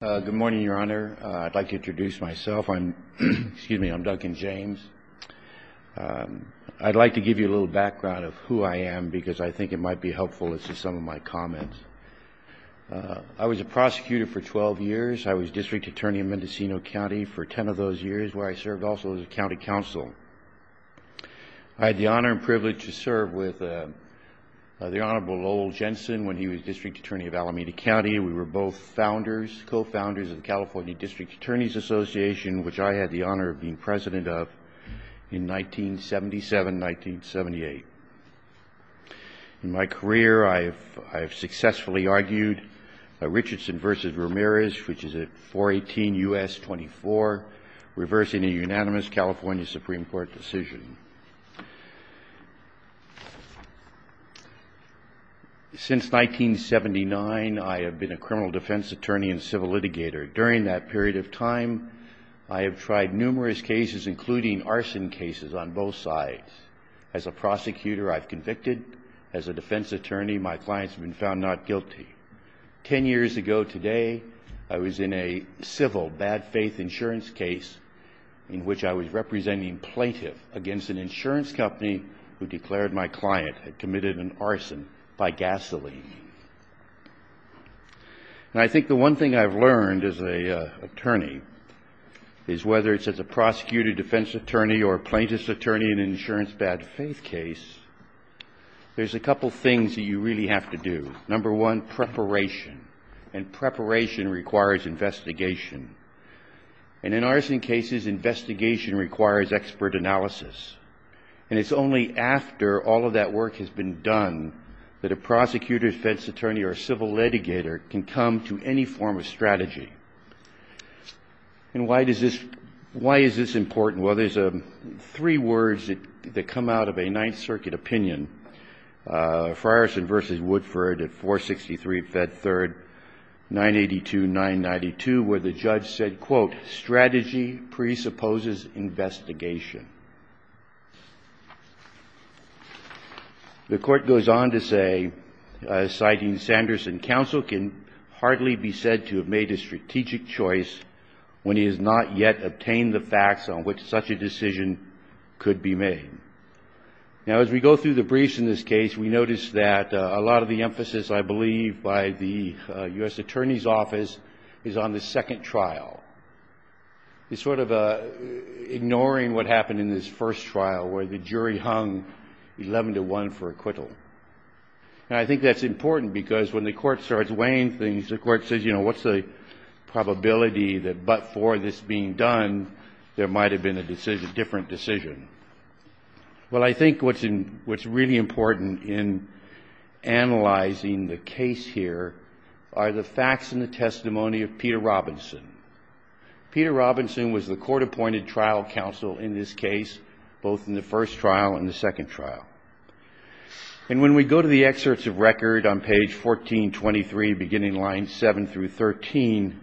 Good morning, Your Honor. I'd like to introduce myself. I'm Duncan James. I'd like to give you a little background of who I am because I think it might be helpful as to some of my comments. I was a prosecutor for 12 years. I was District Attorney of Mendocino County for 10 of those years where I served also as a County Counsel. I had the honor and privilege to serve with the Honorable Lowell Jensen when he was District Attorney of Alameda County. We were both founders, co-founders of the California District Attorney's Association, which I had the honor of being President of in 1977-1978. In my career, I have successfully argued a Richardson v. Ramirez, which is a 418 U.S. 24, reversing a unanimous California Supreme Court decision. Since 1979, I have been a criminal defense attorney and civil litigator. During that period of time, I have tried numerous cases, including arson cases on both sides. As a prosecutor, I've convicted. As a defense attorney, my clients have been found not guilty. Ten years ago today, I was in a civil bad faith insurance case in which I was representing plaintiff against an insurance company who declared my client had committed an arson by gasoline. And I think the one thing I've learned as an attorney is whether it's as a prosecutor, defense attorney, or plaintiff's attorney in an insurance bad faith case, there's a couple things that you really have to do. Number one, preparation. And preparation requires investigation. And in arson cases, investigation requires expert analysis. And it's only after all of that work has been done that a prosecutor, defense attorney, or civil litigator can come to any form of strategy. And why is this important? Well, there's three words that come out of a Ninth Circuit opinion, Frierson v. Woodford at 463 Fed Third 982-992, where the judge said, quote, strategy presupposes investigation. The court goes on to say, citing Sanderson, counsel can hardly be said to have made a strategic choice when he has not yet obtained the facts on which such a decision could be made. Now, as we go through the briefs in this case, we notice that a lot of the emphasis, I believe, by the U.S. Attorney's Office is on the second trial. It's sort of ignoring what happened in this first trial, where the jury hung 11 to 1 for acquittal. And I think that's important, because when the court starts weighing things, the court says, you know, what's the probability that but for this being done, there might have been a different decision? Well, I think what's really important in analyzing the case here are the facts and the testimony of Peter Robinson. Peter Robinson was the court-appointed trial counsel in this case, both in the first trial and the second trial. And when we go to the excerpts of record on page 1423, beginning lines 7 through 13,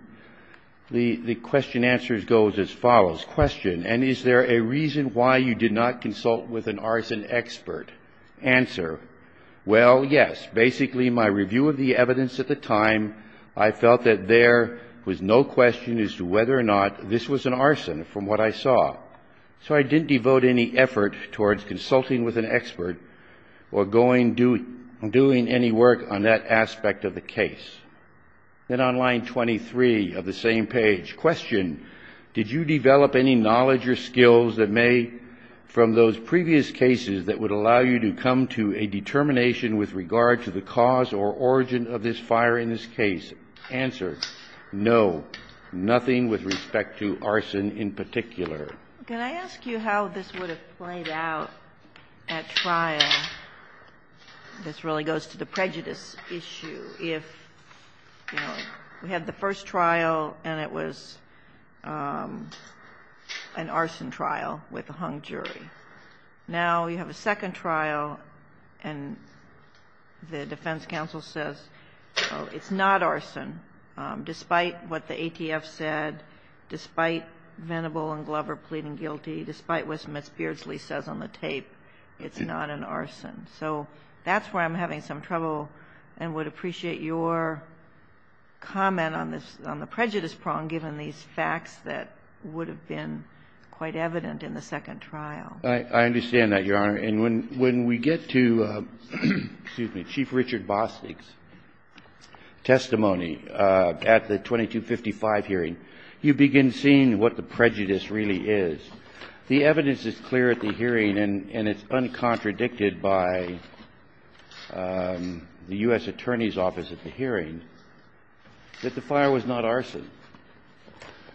the question-answer goes as follows. Question. And is there a reason why you did not consult with an arson expert? Answer. Well, yes. Basically, my review of the evidence at the time, I felt that there was no question as to whether or not this was an arson from what I saw. So I didn't devote any effort towards consulting with an expert or going doing any work on that aspect of the case. Then on line 23 of the same page, question. Did you develop any knowledge or skills that may, from those previous cases, that would allow you to come to a determination with regard to the cause or origin of this fire in this case? Answer. No, nothing with respect to arson in particular. Can I ask you how this would have played out at trial? This really goes to the prejudice issue if, you know, we had the first trial and it was an arson trial with a hung jury. Now you have a second trial and the defense counsel says, you know, it's not arson, despite what the ATF said, despite Venable and Glover pleading guilty, despite what Ms. Beardsley says on the tape, it's not an arson. So that's where I'm having some trouble and would appreciate your comment on this, on the prejudice prong, given these facts that would have been quite evident in the second trial. I understand that, Your Honor. And when we get to, excuse me, Chief Richard Bostick's testimony at the 2255 hearing, you begin seeing what the prejudice really is. The evidence is clear at the hearing and it's uncontradicted by the U.S. Attorney's Office at the hearing that the fire was not arson,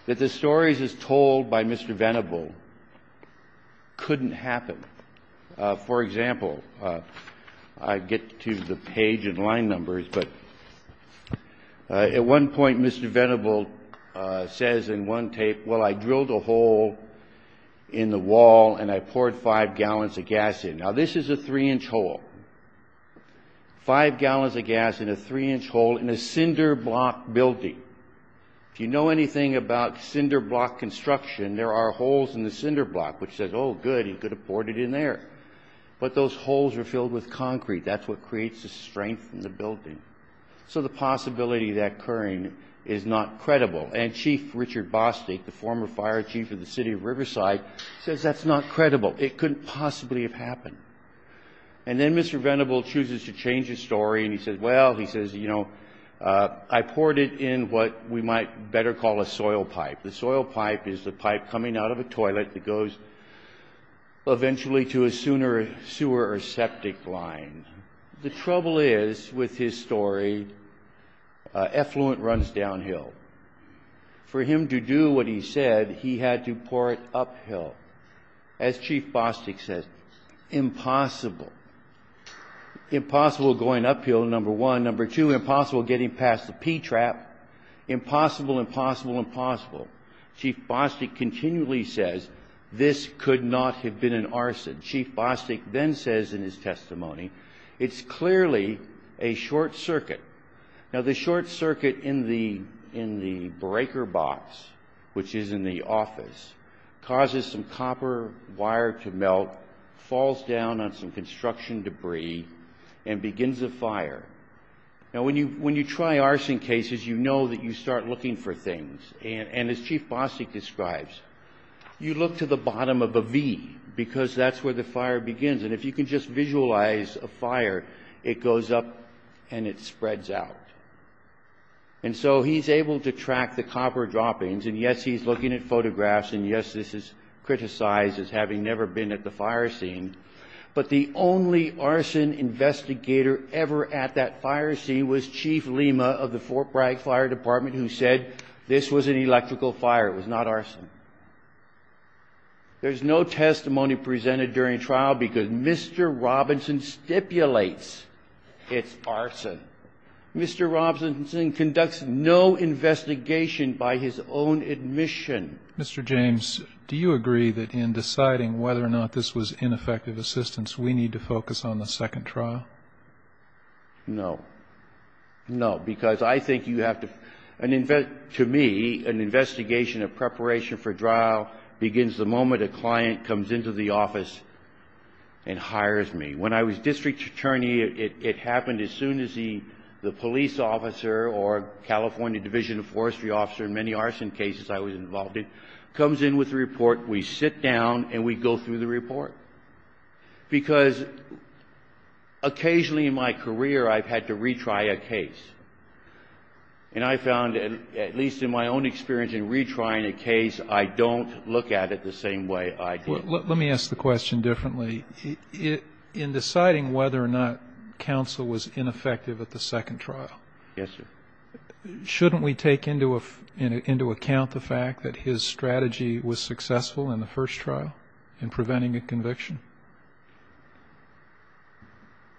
that the stories as told by Mr. Venable couldn't happen. For example, I get to the page and line numbers, but at one point Mr. Venable says in one tape, well, I drilled a hole in the wall and I poured five gallons of gas in. Now this is a three-inch hole. Five gallons of gas in a three-inch hole in a cinder block building. If you know anything about cinder block construction, there are holes in the cinder block, which says, oh good, you could have poured it in there. But those holes are filled with concrete. That's what creates the strength in the building. So the possibility of that occurring is not credible. And Chief Richard Bostick, the former fire chief of the city of Riverside, says that's not credible. It couldn't possibly have happened. And then Mr. Venable chooses to change his story and he says, well, he says, you know, I poured it in what we might better call a soil pipe. The soil pipe is the pipe coming out of a toilet that goes eventually to a sewer or septic line. The trouble is with his story, effluent runs downhill. For him to do what he said, he had to pour it uphill. As Chief Bostick says, impossible. Impossible going uphill, number one. Number two, impossible getting past the P-trap. Impossible, impossible, impossible. Chief Bostick continually says this could not have been an arson. Chief Bostick then says in his testimony, it's clearly a short circuit. Now, the short circuit in the breaker box, which is in the office, causes some copper wire to melt, falls down on some construction debris, and begins a fire. Now, when you try arson cases, you know that you start looking for things. And as Chief Bostick describes, you look to the bottom of a V, because that's where the fire begins. And if you can just visualize a fire, it goes up and it spreads out. And so he's able to track the copper droppings. And yes, he's looking at photographs. And yes, this is criticized as having never been at the fire scene. But the only arson investigator ever at that fire scene was Chief Lima of the Fort Bragg Fire Now, that's a testimony presented during trial, because Mr. Robinson stipulates it's arson. Mr. Robinson conducts no investigation by his own admission. Mr. James, do you agree that in deciding whether or not this was ineffective assistance, we need to focus on the second trial? No. No. Because I think you have to an invest to me, an investigation, a preparation for trial begins the moment a client comes into the office and hires me. When I was district attorney, it happened as soon as the police officer or California Division of Forestry officer, in many arson cases I was involved in, comes in with a report. We sit down and we go through the report. Because occasionally in my career, I've had to retry a case. And I found, at least in my own experience in retrying a case, I don't look at it the same way I do. Let me ask the question differently. In deciding whether or not counsel was ineffective at the second trial, shouldn't we take into account the fact that his strategy was successful in the first trial in preventing a conviction?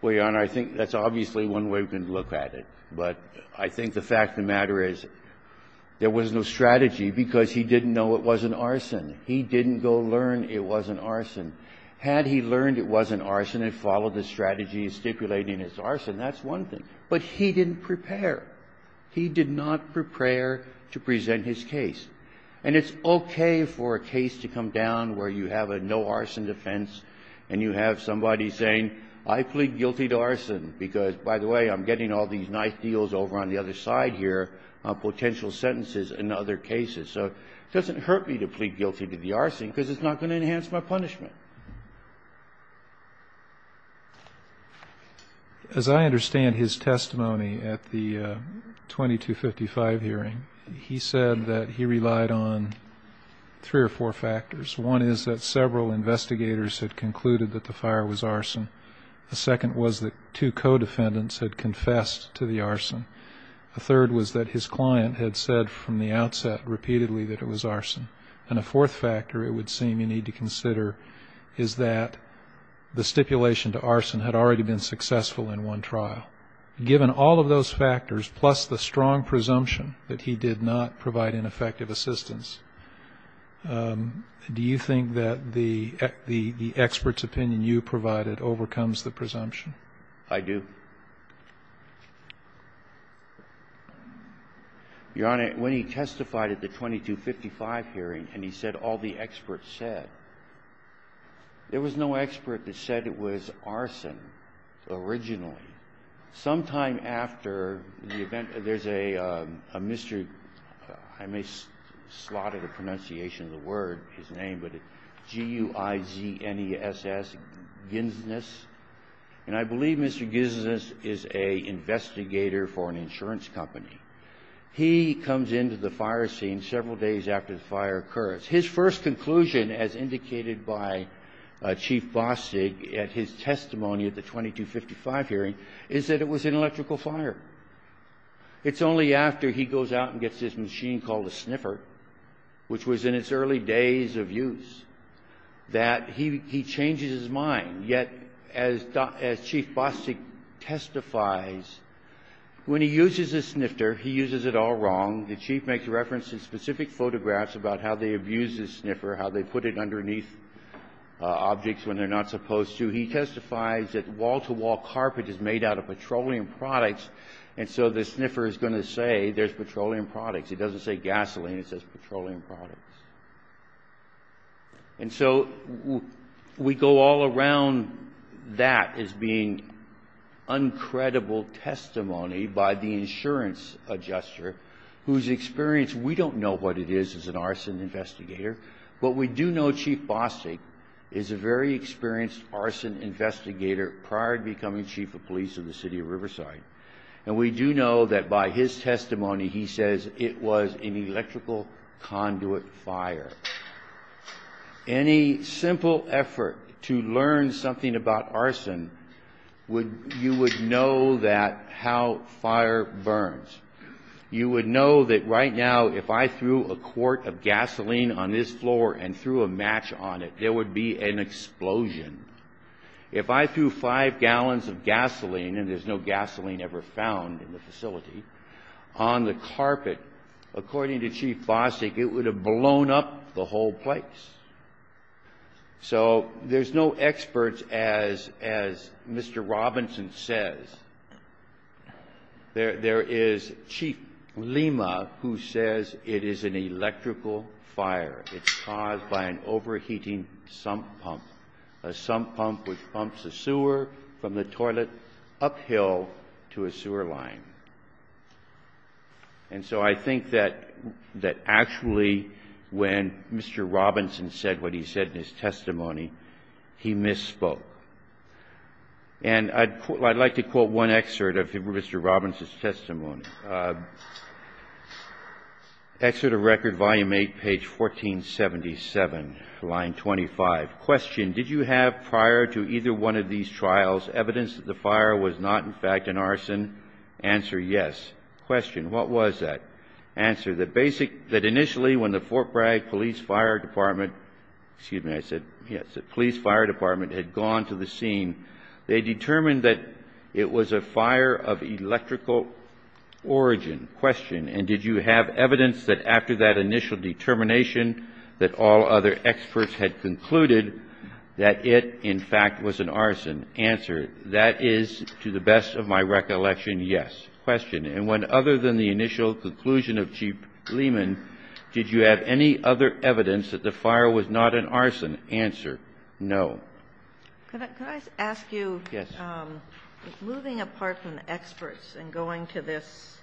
Well, Your Honor, I think that's obviously one way we can look at it. But I think the fact of the matter is, there was no strategy because he didn't know it wasn't arson. He didn't go learn it wasn't arson. Had he learned it wasn't arson and followed the strategy of stipulating it's arson, that's one thing. But he didn't prepare. He did not prepare to present his case. And it's okay for a case to come down where you have a no arson defense and you have somebody saying, I plead guilty to arson because, by the way, I'm getting all these nice deals over on the other side here on potential sentences in other cases. So it doesn't hurt me to plead guilty to the arson because it's not going to enhance my punishment. As I understand his testimony at the 2255 hearing, he said that he relied on three or four factors. One is that several investigators had concluded that the fire was arson. The second was that two co-defendants had confessed to the arson. The third was that his client had said from the outset repeatedly that it was arson. And a fourth factor it would seem you need to consider is that the stipulation to arson had already been successful in one trial. Given all of those factors, plus the strong presumption that he did not provide ineffective assistance, do you think that the expert's opinion you provided overcomes the presumption? I do. Your Honor, when he testified at the 2255 hearing and he said all the experts said, there was no expert that said it was arson originally. Sometime after the event, there's a Mr. — I may slot in the pronunciation of the word, his name, but G-U-I-Z-N-E-S-S Ginsness. And I believe Mr. Ginsness is an investigator for an insurance company. He comes into the fire scene several days after the fire occurs. His first conclusion, as indicated by Chief Bostig at his testimony at the 2255 hearing, is that it was an electrical fire. It's only after he goes out and gets this machine called a sniffer, which was in its early days of use, that he changes his mind. Yet, as Chief Bostig testifies, when he uses a snifter, he uses it all wrong. The Chief makes reference to specific photographs about how they abuse the sniffer, how they put it underneath objects when they're not supposed to. He testifies that wall-to-wall carpet is made out of petroleum products, and so the sniffer is going to say there's petroleum products. It doesn't say gasoline. It says petroleum products. And so we go all around that as being uncredible testimony by the insurance adjuster, whose experience — we don't know what it is as an arson investigator, but we do know Chief Bostig is a very experienced arson investigator prior to becoming chief of police in the city of Riverside. And we do know that by his testimony, he says it was an electrical conduit fire. Any simple effort to learn something about arson, you would know that — how fire burns. You would know that right now, if I threw a quart of gasoline on this floor and threw a match on it, there would be an explosion. If I threw five gallons of gasoline, and there's no gasoline ever found in the facility, on the carpet, according to Chief Bostig, it would have blown up the whole place. So there's no experts, as Mr. Robinson says. There is Chief Lima, who says it is an electrical fire. It's caused by an overheating sump pump, a sump pump which pumps the sewer from the toilet uphill to a sewer line. And so I think that actually when Mr. Robinson said what he said in his testimony, he misspoke. And I'd like to quote one excerpt of Mr. Robinson's testimony. Excerpt of Record, Volume 8, page 1477, line 25. Question. Did you have prior to either one of these trials evidence that the fire was not in fact an arson? Answer, yes. Question, what was that? Answer, that basic, that initially when the Fort Bragg Police Fire Department, excuse me, I said, yes, the Police Fire Department had gone to the scene, they determined that it was a fire of electrical origin. Question, and did you have evidence that after that initial determination that all other experts had concluded that it in fact was an arson? Answer, that is to the best of my recollection, yes. Question, and when other than the initial conclusion of Chief Lehman, did you have any other evidence that the fire was not an arson? Answer, no. Can I ask you, moving apart from experts and going to this,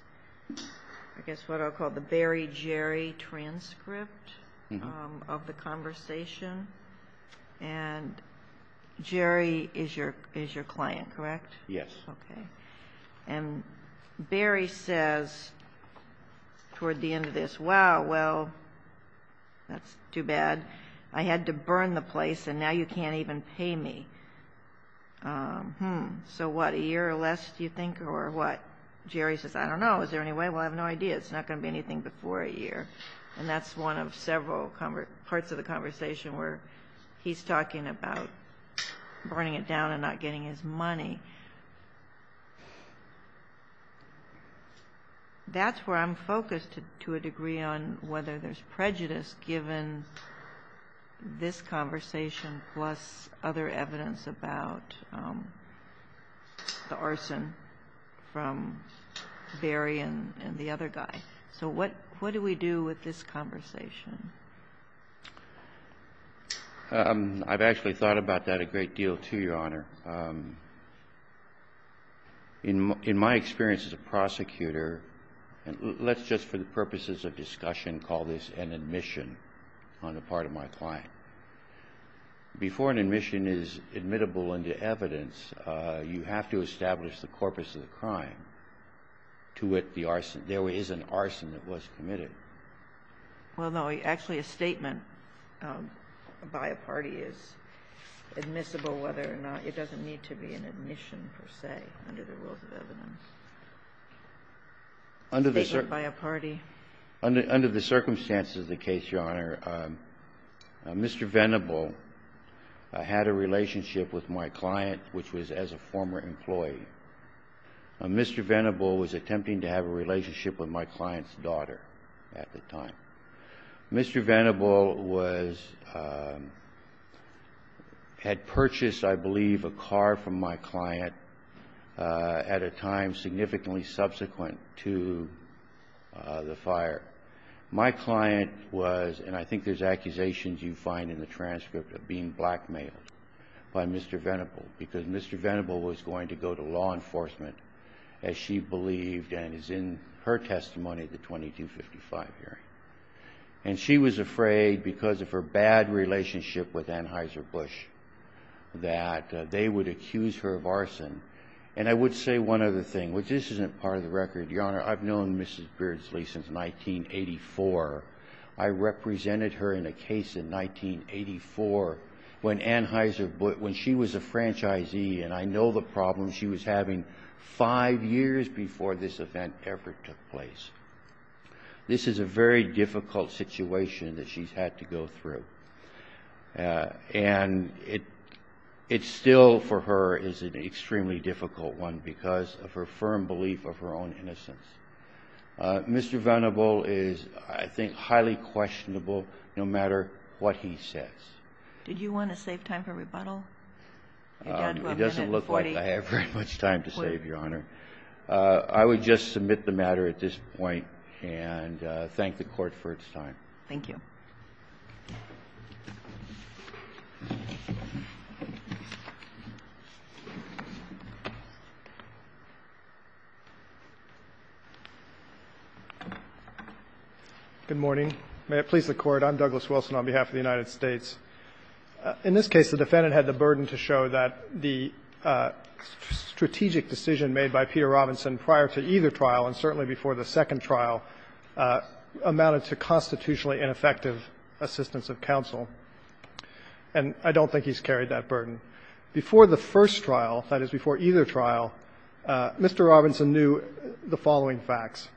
I guess what I'll call the Barry Jerry transcript of the conversation, and Jerry is your client, correct? Yes. Okay. And Barry says toward the end of this, wow, well, that's too bad. I had to burn the place and now you can't even pay me. So what, a year or less do you think, or what? Jerry says, I don't know. Is there any way? I said, well, I have no idea. It's not going to be anything before a year, and that's one of several parts of the conversation where he's talking about burning it down and not getting his money. That's where I'm focused to a degree on whether there's prejudice given this conversation plus other evidence about the arson from Barry and the other guy. So what do we do with this conversation? I've actually thought about that a great deal, too, Your Honor. In my experience as a prosecutor, and let's just for the purposes of discussion call this an admission on the part of my client. Before an admission is admittable into evidence, you have to establish the corpus of the crime to wit the arson. There is an arson that was committed. Well, no. Actually a statement by a party is admissible whether or not it doesn't need to be an admission A statement by a party? Under the circumstances of the case, Your Honor, Mr. Venable had a relationship with my client, which was as a former employee. Mr. Venable was attempting to have a relationship with my client's daughter at the time. Mr. Venable had purchased, I believe, a car from my client at a time significantly subsequent to the fire. My client was, and I think there's accusations you find in the transcript of being blackmailed by Mr. Venable, because Mr. Venable was going to go to law enforcement, as she believed and is in her testimony at the 2255 hearing. And she was afraid because of her bad relationship with Anheuser-Busch that they would accuse her of arson. And I would say one other thing, which this isn't part of the record, Your Honor. I've known Mrs. Beardsley since 1984. I represented her in a case in 1984 when Anheuser-Busch, when she was a franchisee and I know the problems she was having five years before this event ever took place. This is a very difficult situation that she's had to go through. And it still, for her, is an extremely difficult one because of her firm belief of her own innocence. Mr. Venable is, I think, highly questionable, no matter what he says. Did you want to save time for rebuttal? It doesn't look like I have very much time to save, Your Honor. I would just submit the matter at this point and thank the Court for its time. Thank you. Good morning. May it please the Court. I'm Douglas Wilson on behalf of the United States. In this case, the defendant had the burden to show that the strategic decision made by Peter Robinson prior to either trial and certainly before the second trial amounted to constitutionally ineffective assistance of counsel. And I don't think he's carried that burden. Before the first trial, that is, before either trial, Mr. Robinson knew the following facts.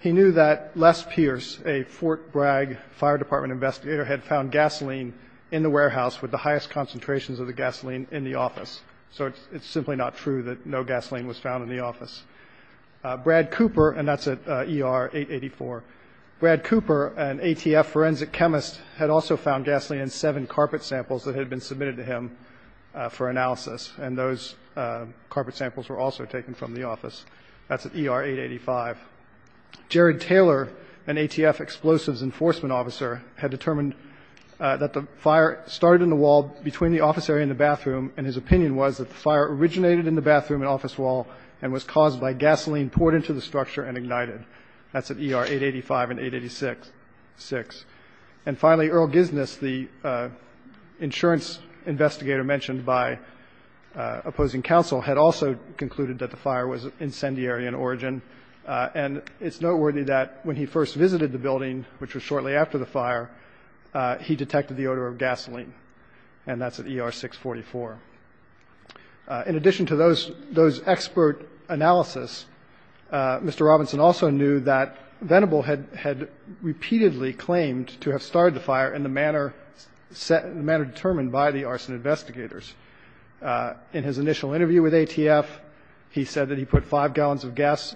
He knew that Les Pierce, a Fort Bragg Fire Department investigator, had found gasoline in the warehouse with the highest concentrations of the gasoline in the office. So it's simply not true that no gasoline was found in the office. Brad Cooper, and that's at ER-884, Brad Cooper, an ATF forensic chemist, had also found gasoline in seven carpet samples that had been submitted to him for analysis, and those carpet samples were also taken from the office. That's at ER-885. Jared Taylor, an ATF explosives enforcement officer, had determined that the fire started in the wall between the office area and the bathroom, and his opinion was that the fire originated in the bathroom and office wall and was caused by gasoline poured into the structure and ignited. That's at ER-885 and 886. And finally, Earl Gisness, the insurance investigator mentioned by opposing counsel, had also concluded that the fire was incendiary in origin. And it's noteworthy that when he first visited the building, which was shortly after the fire, he detected the odor of gasoline, and that's at ER-644. In addition to those expert analysis, Mr. Robinson also knew that Venable had repeatedly claimed to have started the fire in the manner determined by the arson investigators. In his initial interview with ATF, he said that he put five gallons of gas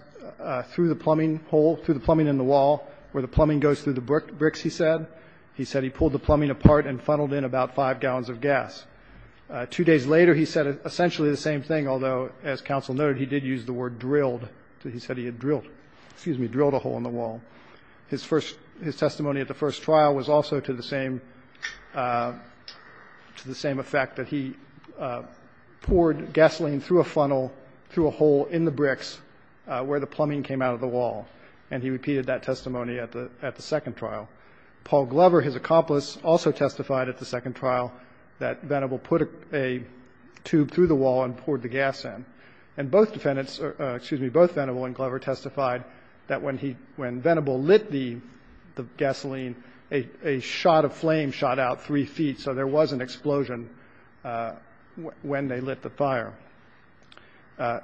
through the plumbing hole, through the plumbing in the wall, where the plumbing goes through the bricks, he said. He said he pulled the plumbing apart and funneled in about five gallons of gas. Two days later, he said essentially the same thing, although, as counsel noted, he did use the word drilled. He said he had drilled a hole in the wall. His testimony at the first trial was also to the same effect, that he poured gasoline through a funnel, through a hole in the bricks, where the plumbing came out of the wall. And he repeated that testimony at the second trial. Paul Glover, his accomplice, also testified at the second trial that Venable put a tube through the wall and poured the gas in. And both defendants, excuse me, both Venable and Glover testified that when Venable lit the gasoline, a shot of flame shot out three feet, so there was an explosion when they lit the fire.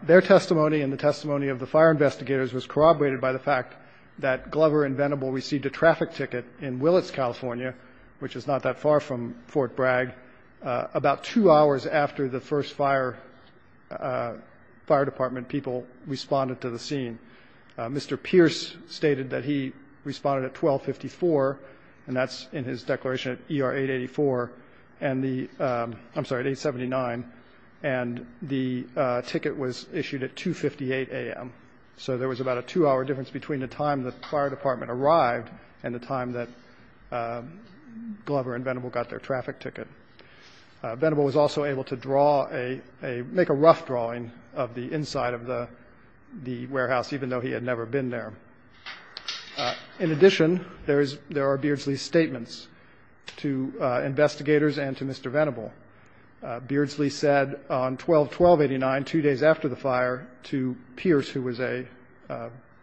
Their testimony and the testimony of the fire investigators was corroborated by the fact that Glover and Venable received a traffic ticket in Willits, California, which is not that far from Fort Bragg, about two hours after the first fire department people responded to the scene. Mr. Pierce stated that he responded at 1254, and that's in his declaration at ER 884, and the, I'm sorry, at 879, and the ticket was issued at 2.58 a.m. So there was about a two-hour difference between the time the fire department arrived and the time that Glover and Venable got their traffic ticket. Venable was also able to draw a, make a rough drawing of the inside of the warehouse, even though he had never been there. In addition, there are Beardsley statements to investigators and to Mr. Venable. Beardsley said on 121289, two days after the fire, to Pierce, who was a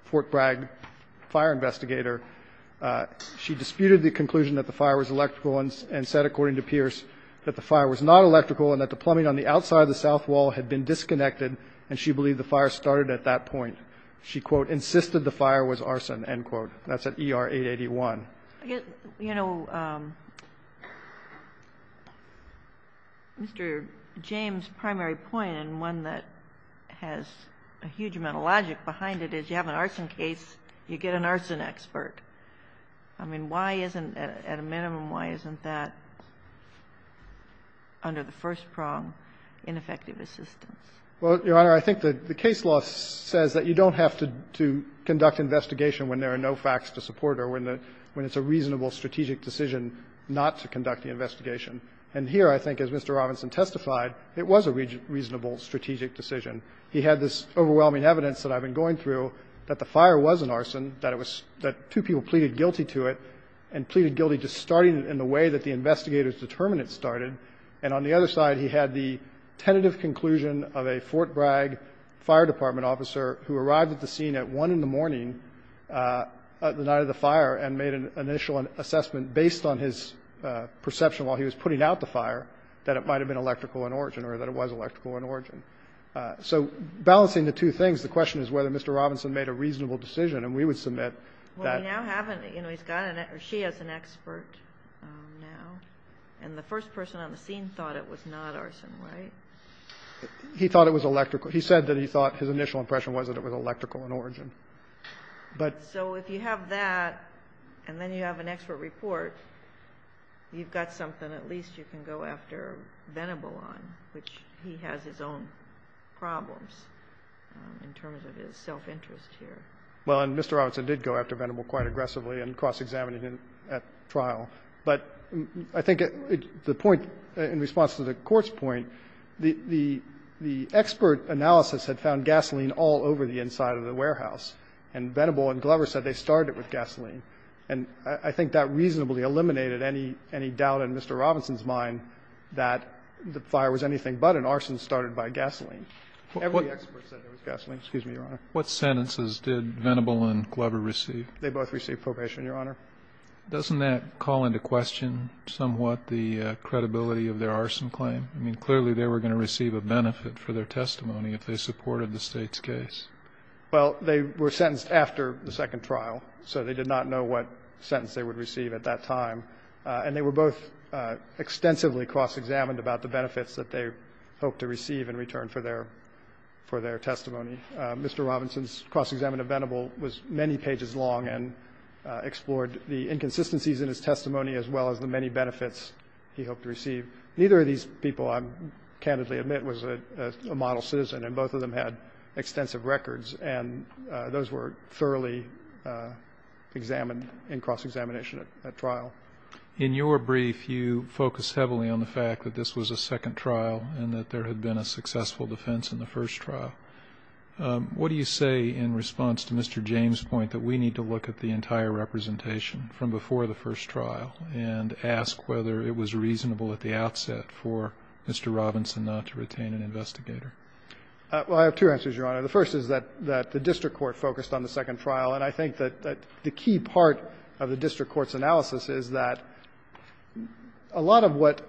Fort Bragg fire investigator, she disputed the conclusion that the fire was electrical and said, according to Pierce, that the fire was not electrical and that the plumbing on the outside of the south wall had been disconnected, and she believed the fire started at that point. She, quote, insisted the fire was arson, end quote. That's at ER 881. I guess, you know, Mr. James' primary point, and one that has a huge amount of logic behind it, is you have an arson case, you get an arson expert. I mean, why isn't, at a minimum, why isn't that, under the first prong, ineffective assistance? Well, Your Honor, I think that the case law says that you don't have to conduct investigation when there are no facts to support it or when it's a reasonable strategic decision not to conduct the investigation. And here, I think, as Mr. Robinson testified, it was a reasonable strategic decision. He had this overwhelming evidence that I've been going through that the fire was an arson, that it was, that two people pleaded guilty to it and pleaded guilty just starting it in the way that the investigator's determinants started. And on the other side, he had the tentative conclusion of a Fort Bragg fire department officer who arrived at the scene at 1 in the morning the night of the fire and made an initial assessment based on his perception while he was putting out the fire that it might have been electrical in origin or that it was electrical in origin. So balancing the two things, the question is whether Mr. Robinson made a reasonable decision. And we would submit that he's got an expert or she has an expert now. And the first person on the scene thought it was not arson, right? He thought it was electrical. He said that he thought his initial impression was that it was electrical in origin. But so if you have that, and then you have an expert report, you've got something at least you can go after Venable on, which he has his own problems in terms of his self-interest here. Well, and Mr. Robinson did go after Venable quite aggressively and cross-examined him at trial. But I think the point in response to the Court's point, the expert analysis had found gasoline all over the inside of the warehouse, and Venable and Glover said they started with gasoline. And I think that reasonably eliminated any doubt in Mr. Robinson's mind that the fire was anything but an arson started by gasoline. Every expert said it was gasoline. Excuse me, Your Honor. Kennedy. What sentences did Venable and Glover receive? They both received probation, Your Honor. Doesn't that call into question somewhat the credibility of their arson claim? I mean, clearly they were going to receive a benefit for their testimony if they supported the State's case. Well, they were sentenced after the second trial, so they did not know what sentence they would receive at that time. And they were both extensively cross-examined about the benefits that they hoped to receive in return for their testimony. Mr. Robinson's cross-examination of Venable was many pages long and explored the inconsistencies in his testimony as well as the many benefits he hoped to receive. Neither of these people, I candidly admit, was a model citizen, and both of them had extensive records. And those were thoroughly examined in cross-examination at trial. In your brief, you focused heavily on the fact that this was a second trial and that there had been a successful defense in the first trial. What do you say in response to Mr. James' point that we need to look at the entire representation from before the first trial and ask whether it was reasonable at the outset for Mr. Robinson not to retain an investigator? Well, I have two answers, Your Honor. The first is that the district court focused on the second trial. And I think that the key part of the district court's analysis is that a lot of what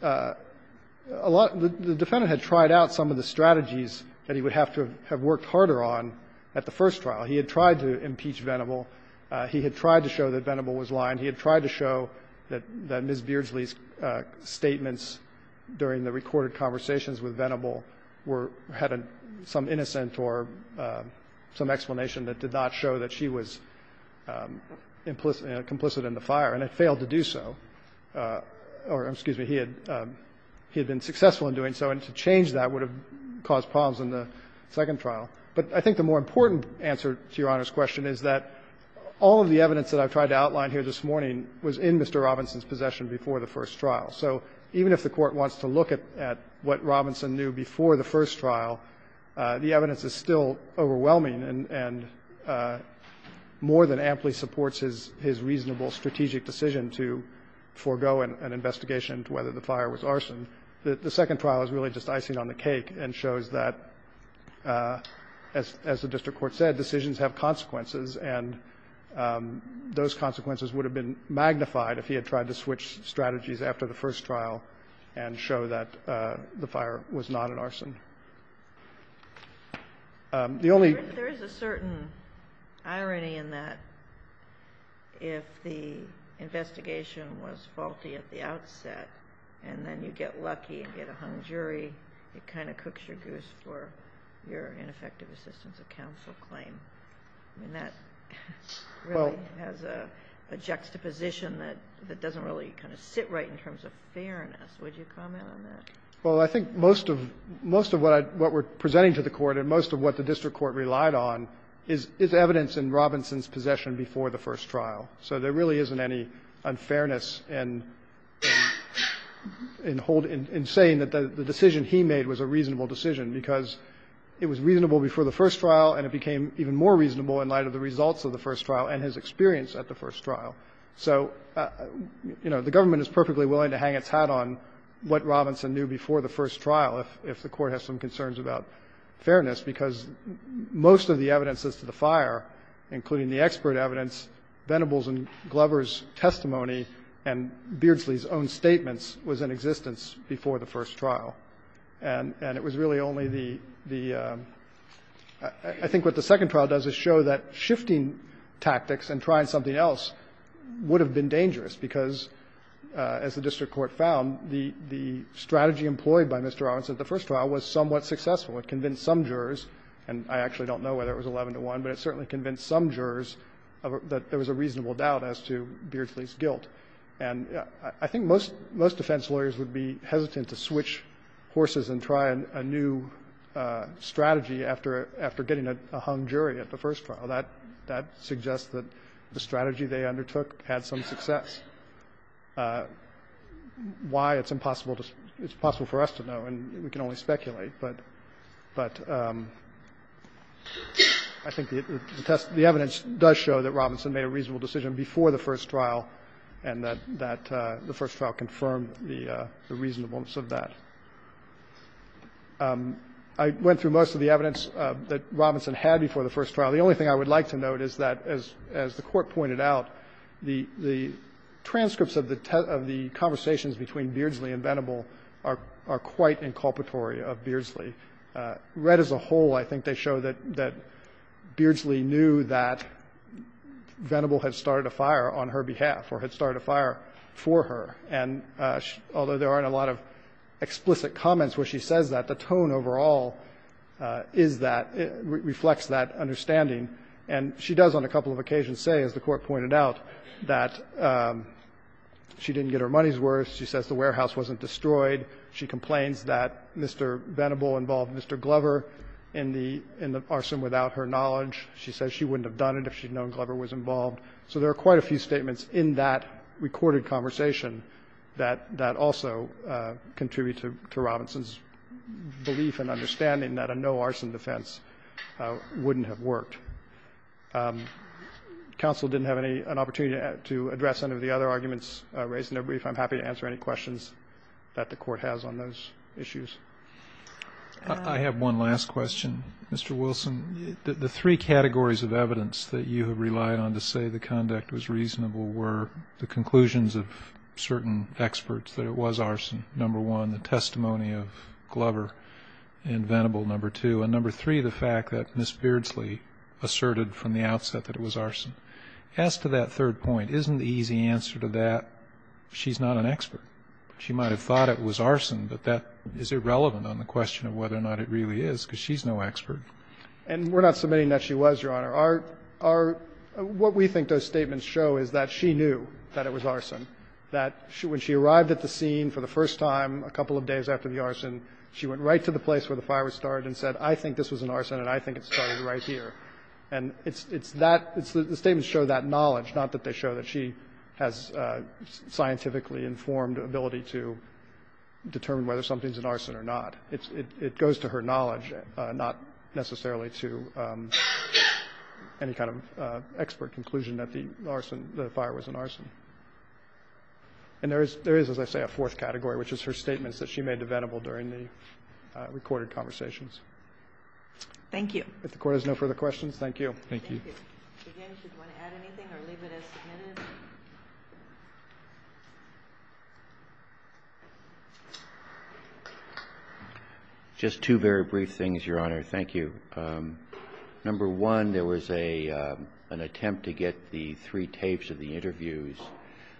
the defendant had tried out some of the strategies that he would have to have worked harder on at the first trial. He had tried to impeach Venable. He had tried to show that Venable was lying. He had tried to show that Ms. Beardsley's statements during the recorded conversations with Venable were or had some innocent or some explanation that did not show that she was implicit and complicit in the fire, and had failed to do so. Or, excuse me, he had been successful in doing so, and to change that would have caused problems in the second trial. But I think the more important answer to Your Honor's question is that all of the evidence that I've tried to outline here this morning was in Mr. Robinson's possession before the first trial. So even if the Court wants to look at what Robinson knew before the first trial, the evidence is still overwhelming and more than amply supports his reasonable strategic decision to forego an investigation as to whether the fire was arson. The second trial is really just icing on the cake and shows that, as the district court said, decisions have consequences, and those consequences would have been magnified if he had tried to switch strategies after the first trial and show that the fire was not an arson. The only ---- And there's a certain irony in that, if the investigation was faulty at the outset and then you get lucky and get a hung jury, it kind of cooks your goose for your ineffective assistance of counsel claim. I mean, that really has a juxtaposition that doesn't really kind of sit right in terms of fairness. Would you comment on that? Well, I think most of what we're presenting to the Court and most of what the district court relied on is evidence in Robinson's possession before the first trial. So there really isn't any unfairness in saying that the decision he made was a reasonable decision, because it was reasonable before the first trial and it became even more reasonable in light of the results of the first trial and his experience at the first trial. So, you know, the government is perfectly willing to hang its hat on what Robinson knew before the first trial if the Court has some concerns about fairness, because most of the evidences to the fire, including the expert evidence, Venable's and Glover's testimony, and Beardsley's own statements, was in existence before the first trial. And it was really only the ---- I think what the second trial does is show that shifting tactics and trying something else would have been dangerous, because as the district court found, the strategy employed by Mr. Robinson at the first trial was somewhat successful. It convinced some jurors, and I actually don't know whether it was 11-to-1, but it certainly convinced some jurors that there was a reasonable doubt as to Beardsley's guilt. And I think most defense lawyers would be hesitant to switch horses and try a new strategy after getting a hung jury at the first trial. That suggests that the strategy they undertook had some success. I don't know why it's impossible to ---- it's impossible for us to know, and we can only speculate, but I think the evidence does show that Robinson made a reasonable decision before the first trial and that the first trial confirmed the reasonableness of that. I went through most of the evidence that Robinson had before the first trial. Now, the only thing I would like to note is that, as the Court pointed out, the transcripts of the conversations between Beardsley and Venable are quite inculpatory of Beardsley. Read as a whole, I think they show that Beardsley knew that Venable had started a fire on her behalf or had started a fire for her, and although there aren't a lot of explicit comments where she says that, the tone overall is that ---- reflects that understanding. And she does on a couple of occasions say, as the Court pointed out, that she didn't get her money's worth. She says the warehouse wasn't destroyed. She complains that Mr. Venable involved Mr. Glover in the arson without her knowledge. She says she wouldn't have done it if she'd known Glover was involved. So there are quite a few statements in that recorded conversation that also contribute to Robinson's belief and understanding that a no-arson defense wouldn't have worked. Counsel didn't have any ---- an opportunity to address any of the other arguments raised in their brief. I'm happy to answer any questions that the Court has on those issues. I have one last question, Mr. Wilson. The three categories of evidence that you have relied on to say the conduct was reasonable were the conclusions of certain experts that it was arson. Number one, the testimony of Glover and Venable, number two. And number three, the fact that Ms. Beardsley asserted from the outset that it was arson. As to that third point, isn't the easy answer to that, she's not an expert? She might have thought it was arson, but that is irrelevant on the question of whether or not it really is, because she's no expert. And we're not submitting that she was, Your Honor. Our ---- what we think those statements show is that she knew that it was arson, that when she arrived at the scene for the first time a couple of days after the arson, she went right to the place where the fire was started and said, I think this was an arson and I think it started right here. And it's that ---- the statements show that knowledge, not that they show that she has scientifically informed ability to determine whether something's an arson or not. It goes to her knowledge, not necessarily to any kind of expert conclusion that the arson ---- the fire was an arson. And there is, as I say, a fourth category, which is her statements that she made debatable during the recorded conversations. Thank you. If the Court has no further questions, thank you. Thank you. Again, if you want to add anything or leave it as submitted. Just two very brief things, Your Honor. Thank you. Number one, there was an attempt to get the three tapes of the interviews.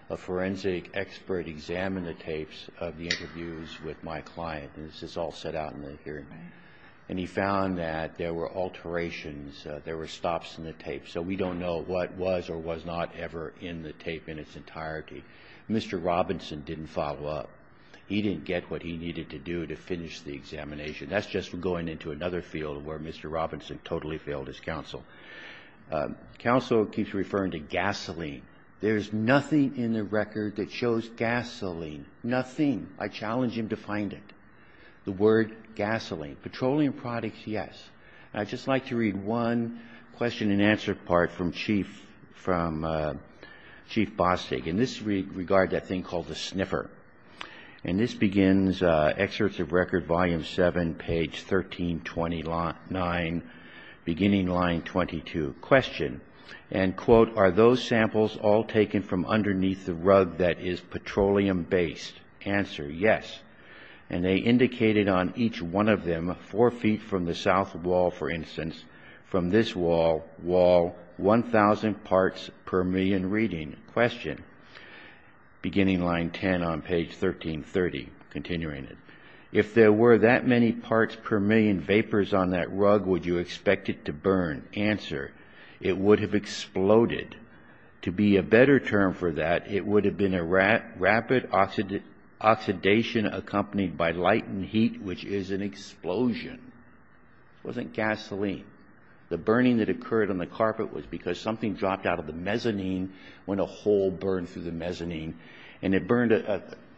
A forensic expert examined the tapes of the interviews with my client. And this is all set out in the hearing. And he found that there were alterations, there were stops in the tape. So we don't know what was or was not ever in the tape in its entirety. Mr. Robinson didn't follow up. He didn't get what he needed to do to finish the examination. That's just going into another field where Mr. Robinson totally failed his counsel. Counsel keeps referring to gasoline. There's nothing in the record that shows gasoline. Nothing. I challenge him to find it. The word gasoline. Petroleum products, yes. I'd just like to read one question and answer part from Chief Bostig. In this regard, that thing called the sniffer. And this begins Excerpts of Record, Volume 7, page 1329, beginning line 22. Question, and quote, are those samples all taken from underneath the rug that is petroleum-based? Answer, yes. And they indicated on each one of them, four feet from the south wall, for instance, from this wall, 1,000 parts per million reading. Question, beginning line 10 on page 1330, continuing it. If there were that many parts per million vapors on that rug, would you expect it to burn? Answer, it would have exploded. To be a better term for that, it would have been a rapid oxidation accompanied by light and heat, which is an explosion. It wasn't gasoline. The burning that occurred on the carpet was because something dropped out of the mezzanine, when a hole burned through the mezzanine. And it burned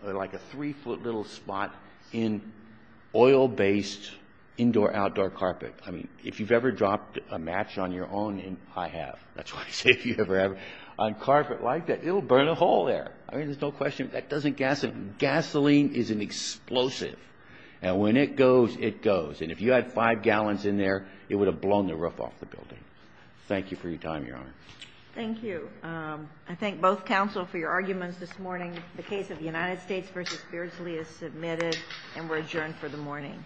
like a three-foot little spot in oil-based indoor-outdoor carpet. I mean, if you've ever dropped a match on your own, and I have. That's why I say if you ever have, on carpet like that, it'll burn a hole there. I mean, there's no question. That doesn't gasoline. Gasoline is an explosive. And when it goes, it goes. And if you had five gallons in there, it would have blown the roof off the building. Thank you for your time, Your Honor. Thank you. I thank both counsel for your arguments this morning. The case of United States v. Beardsley is submitted and we're adjourned for the morning.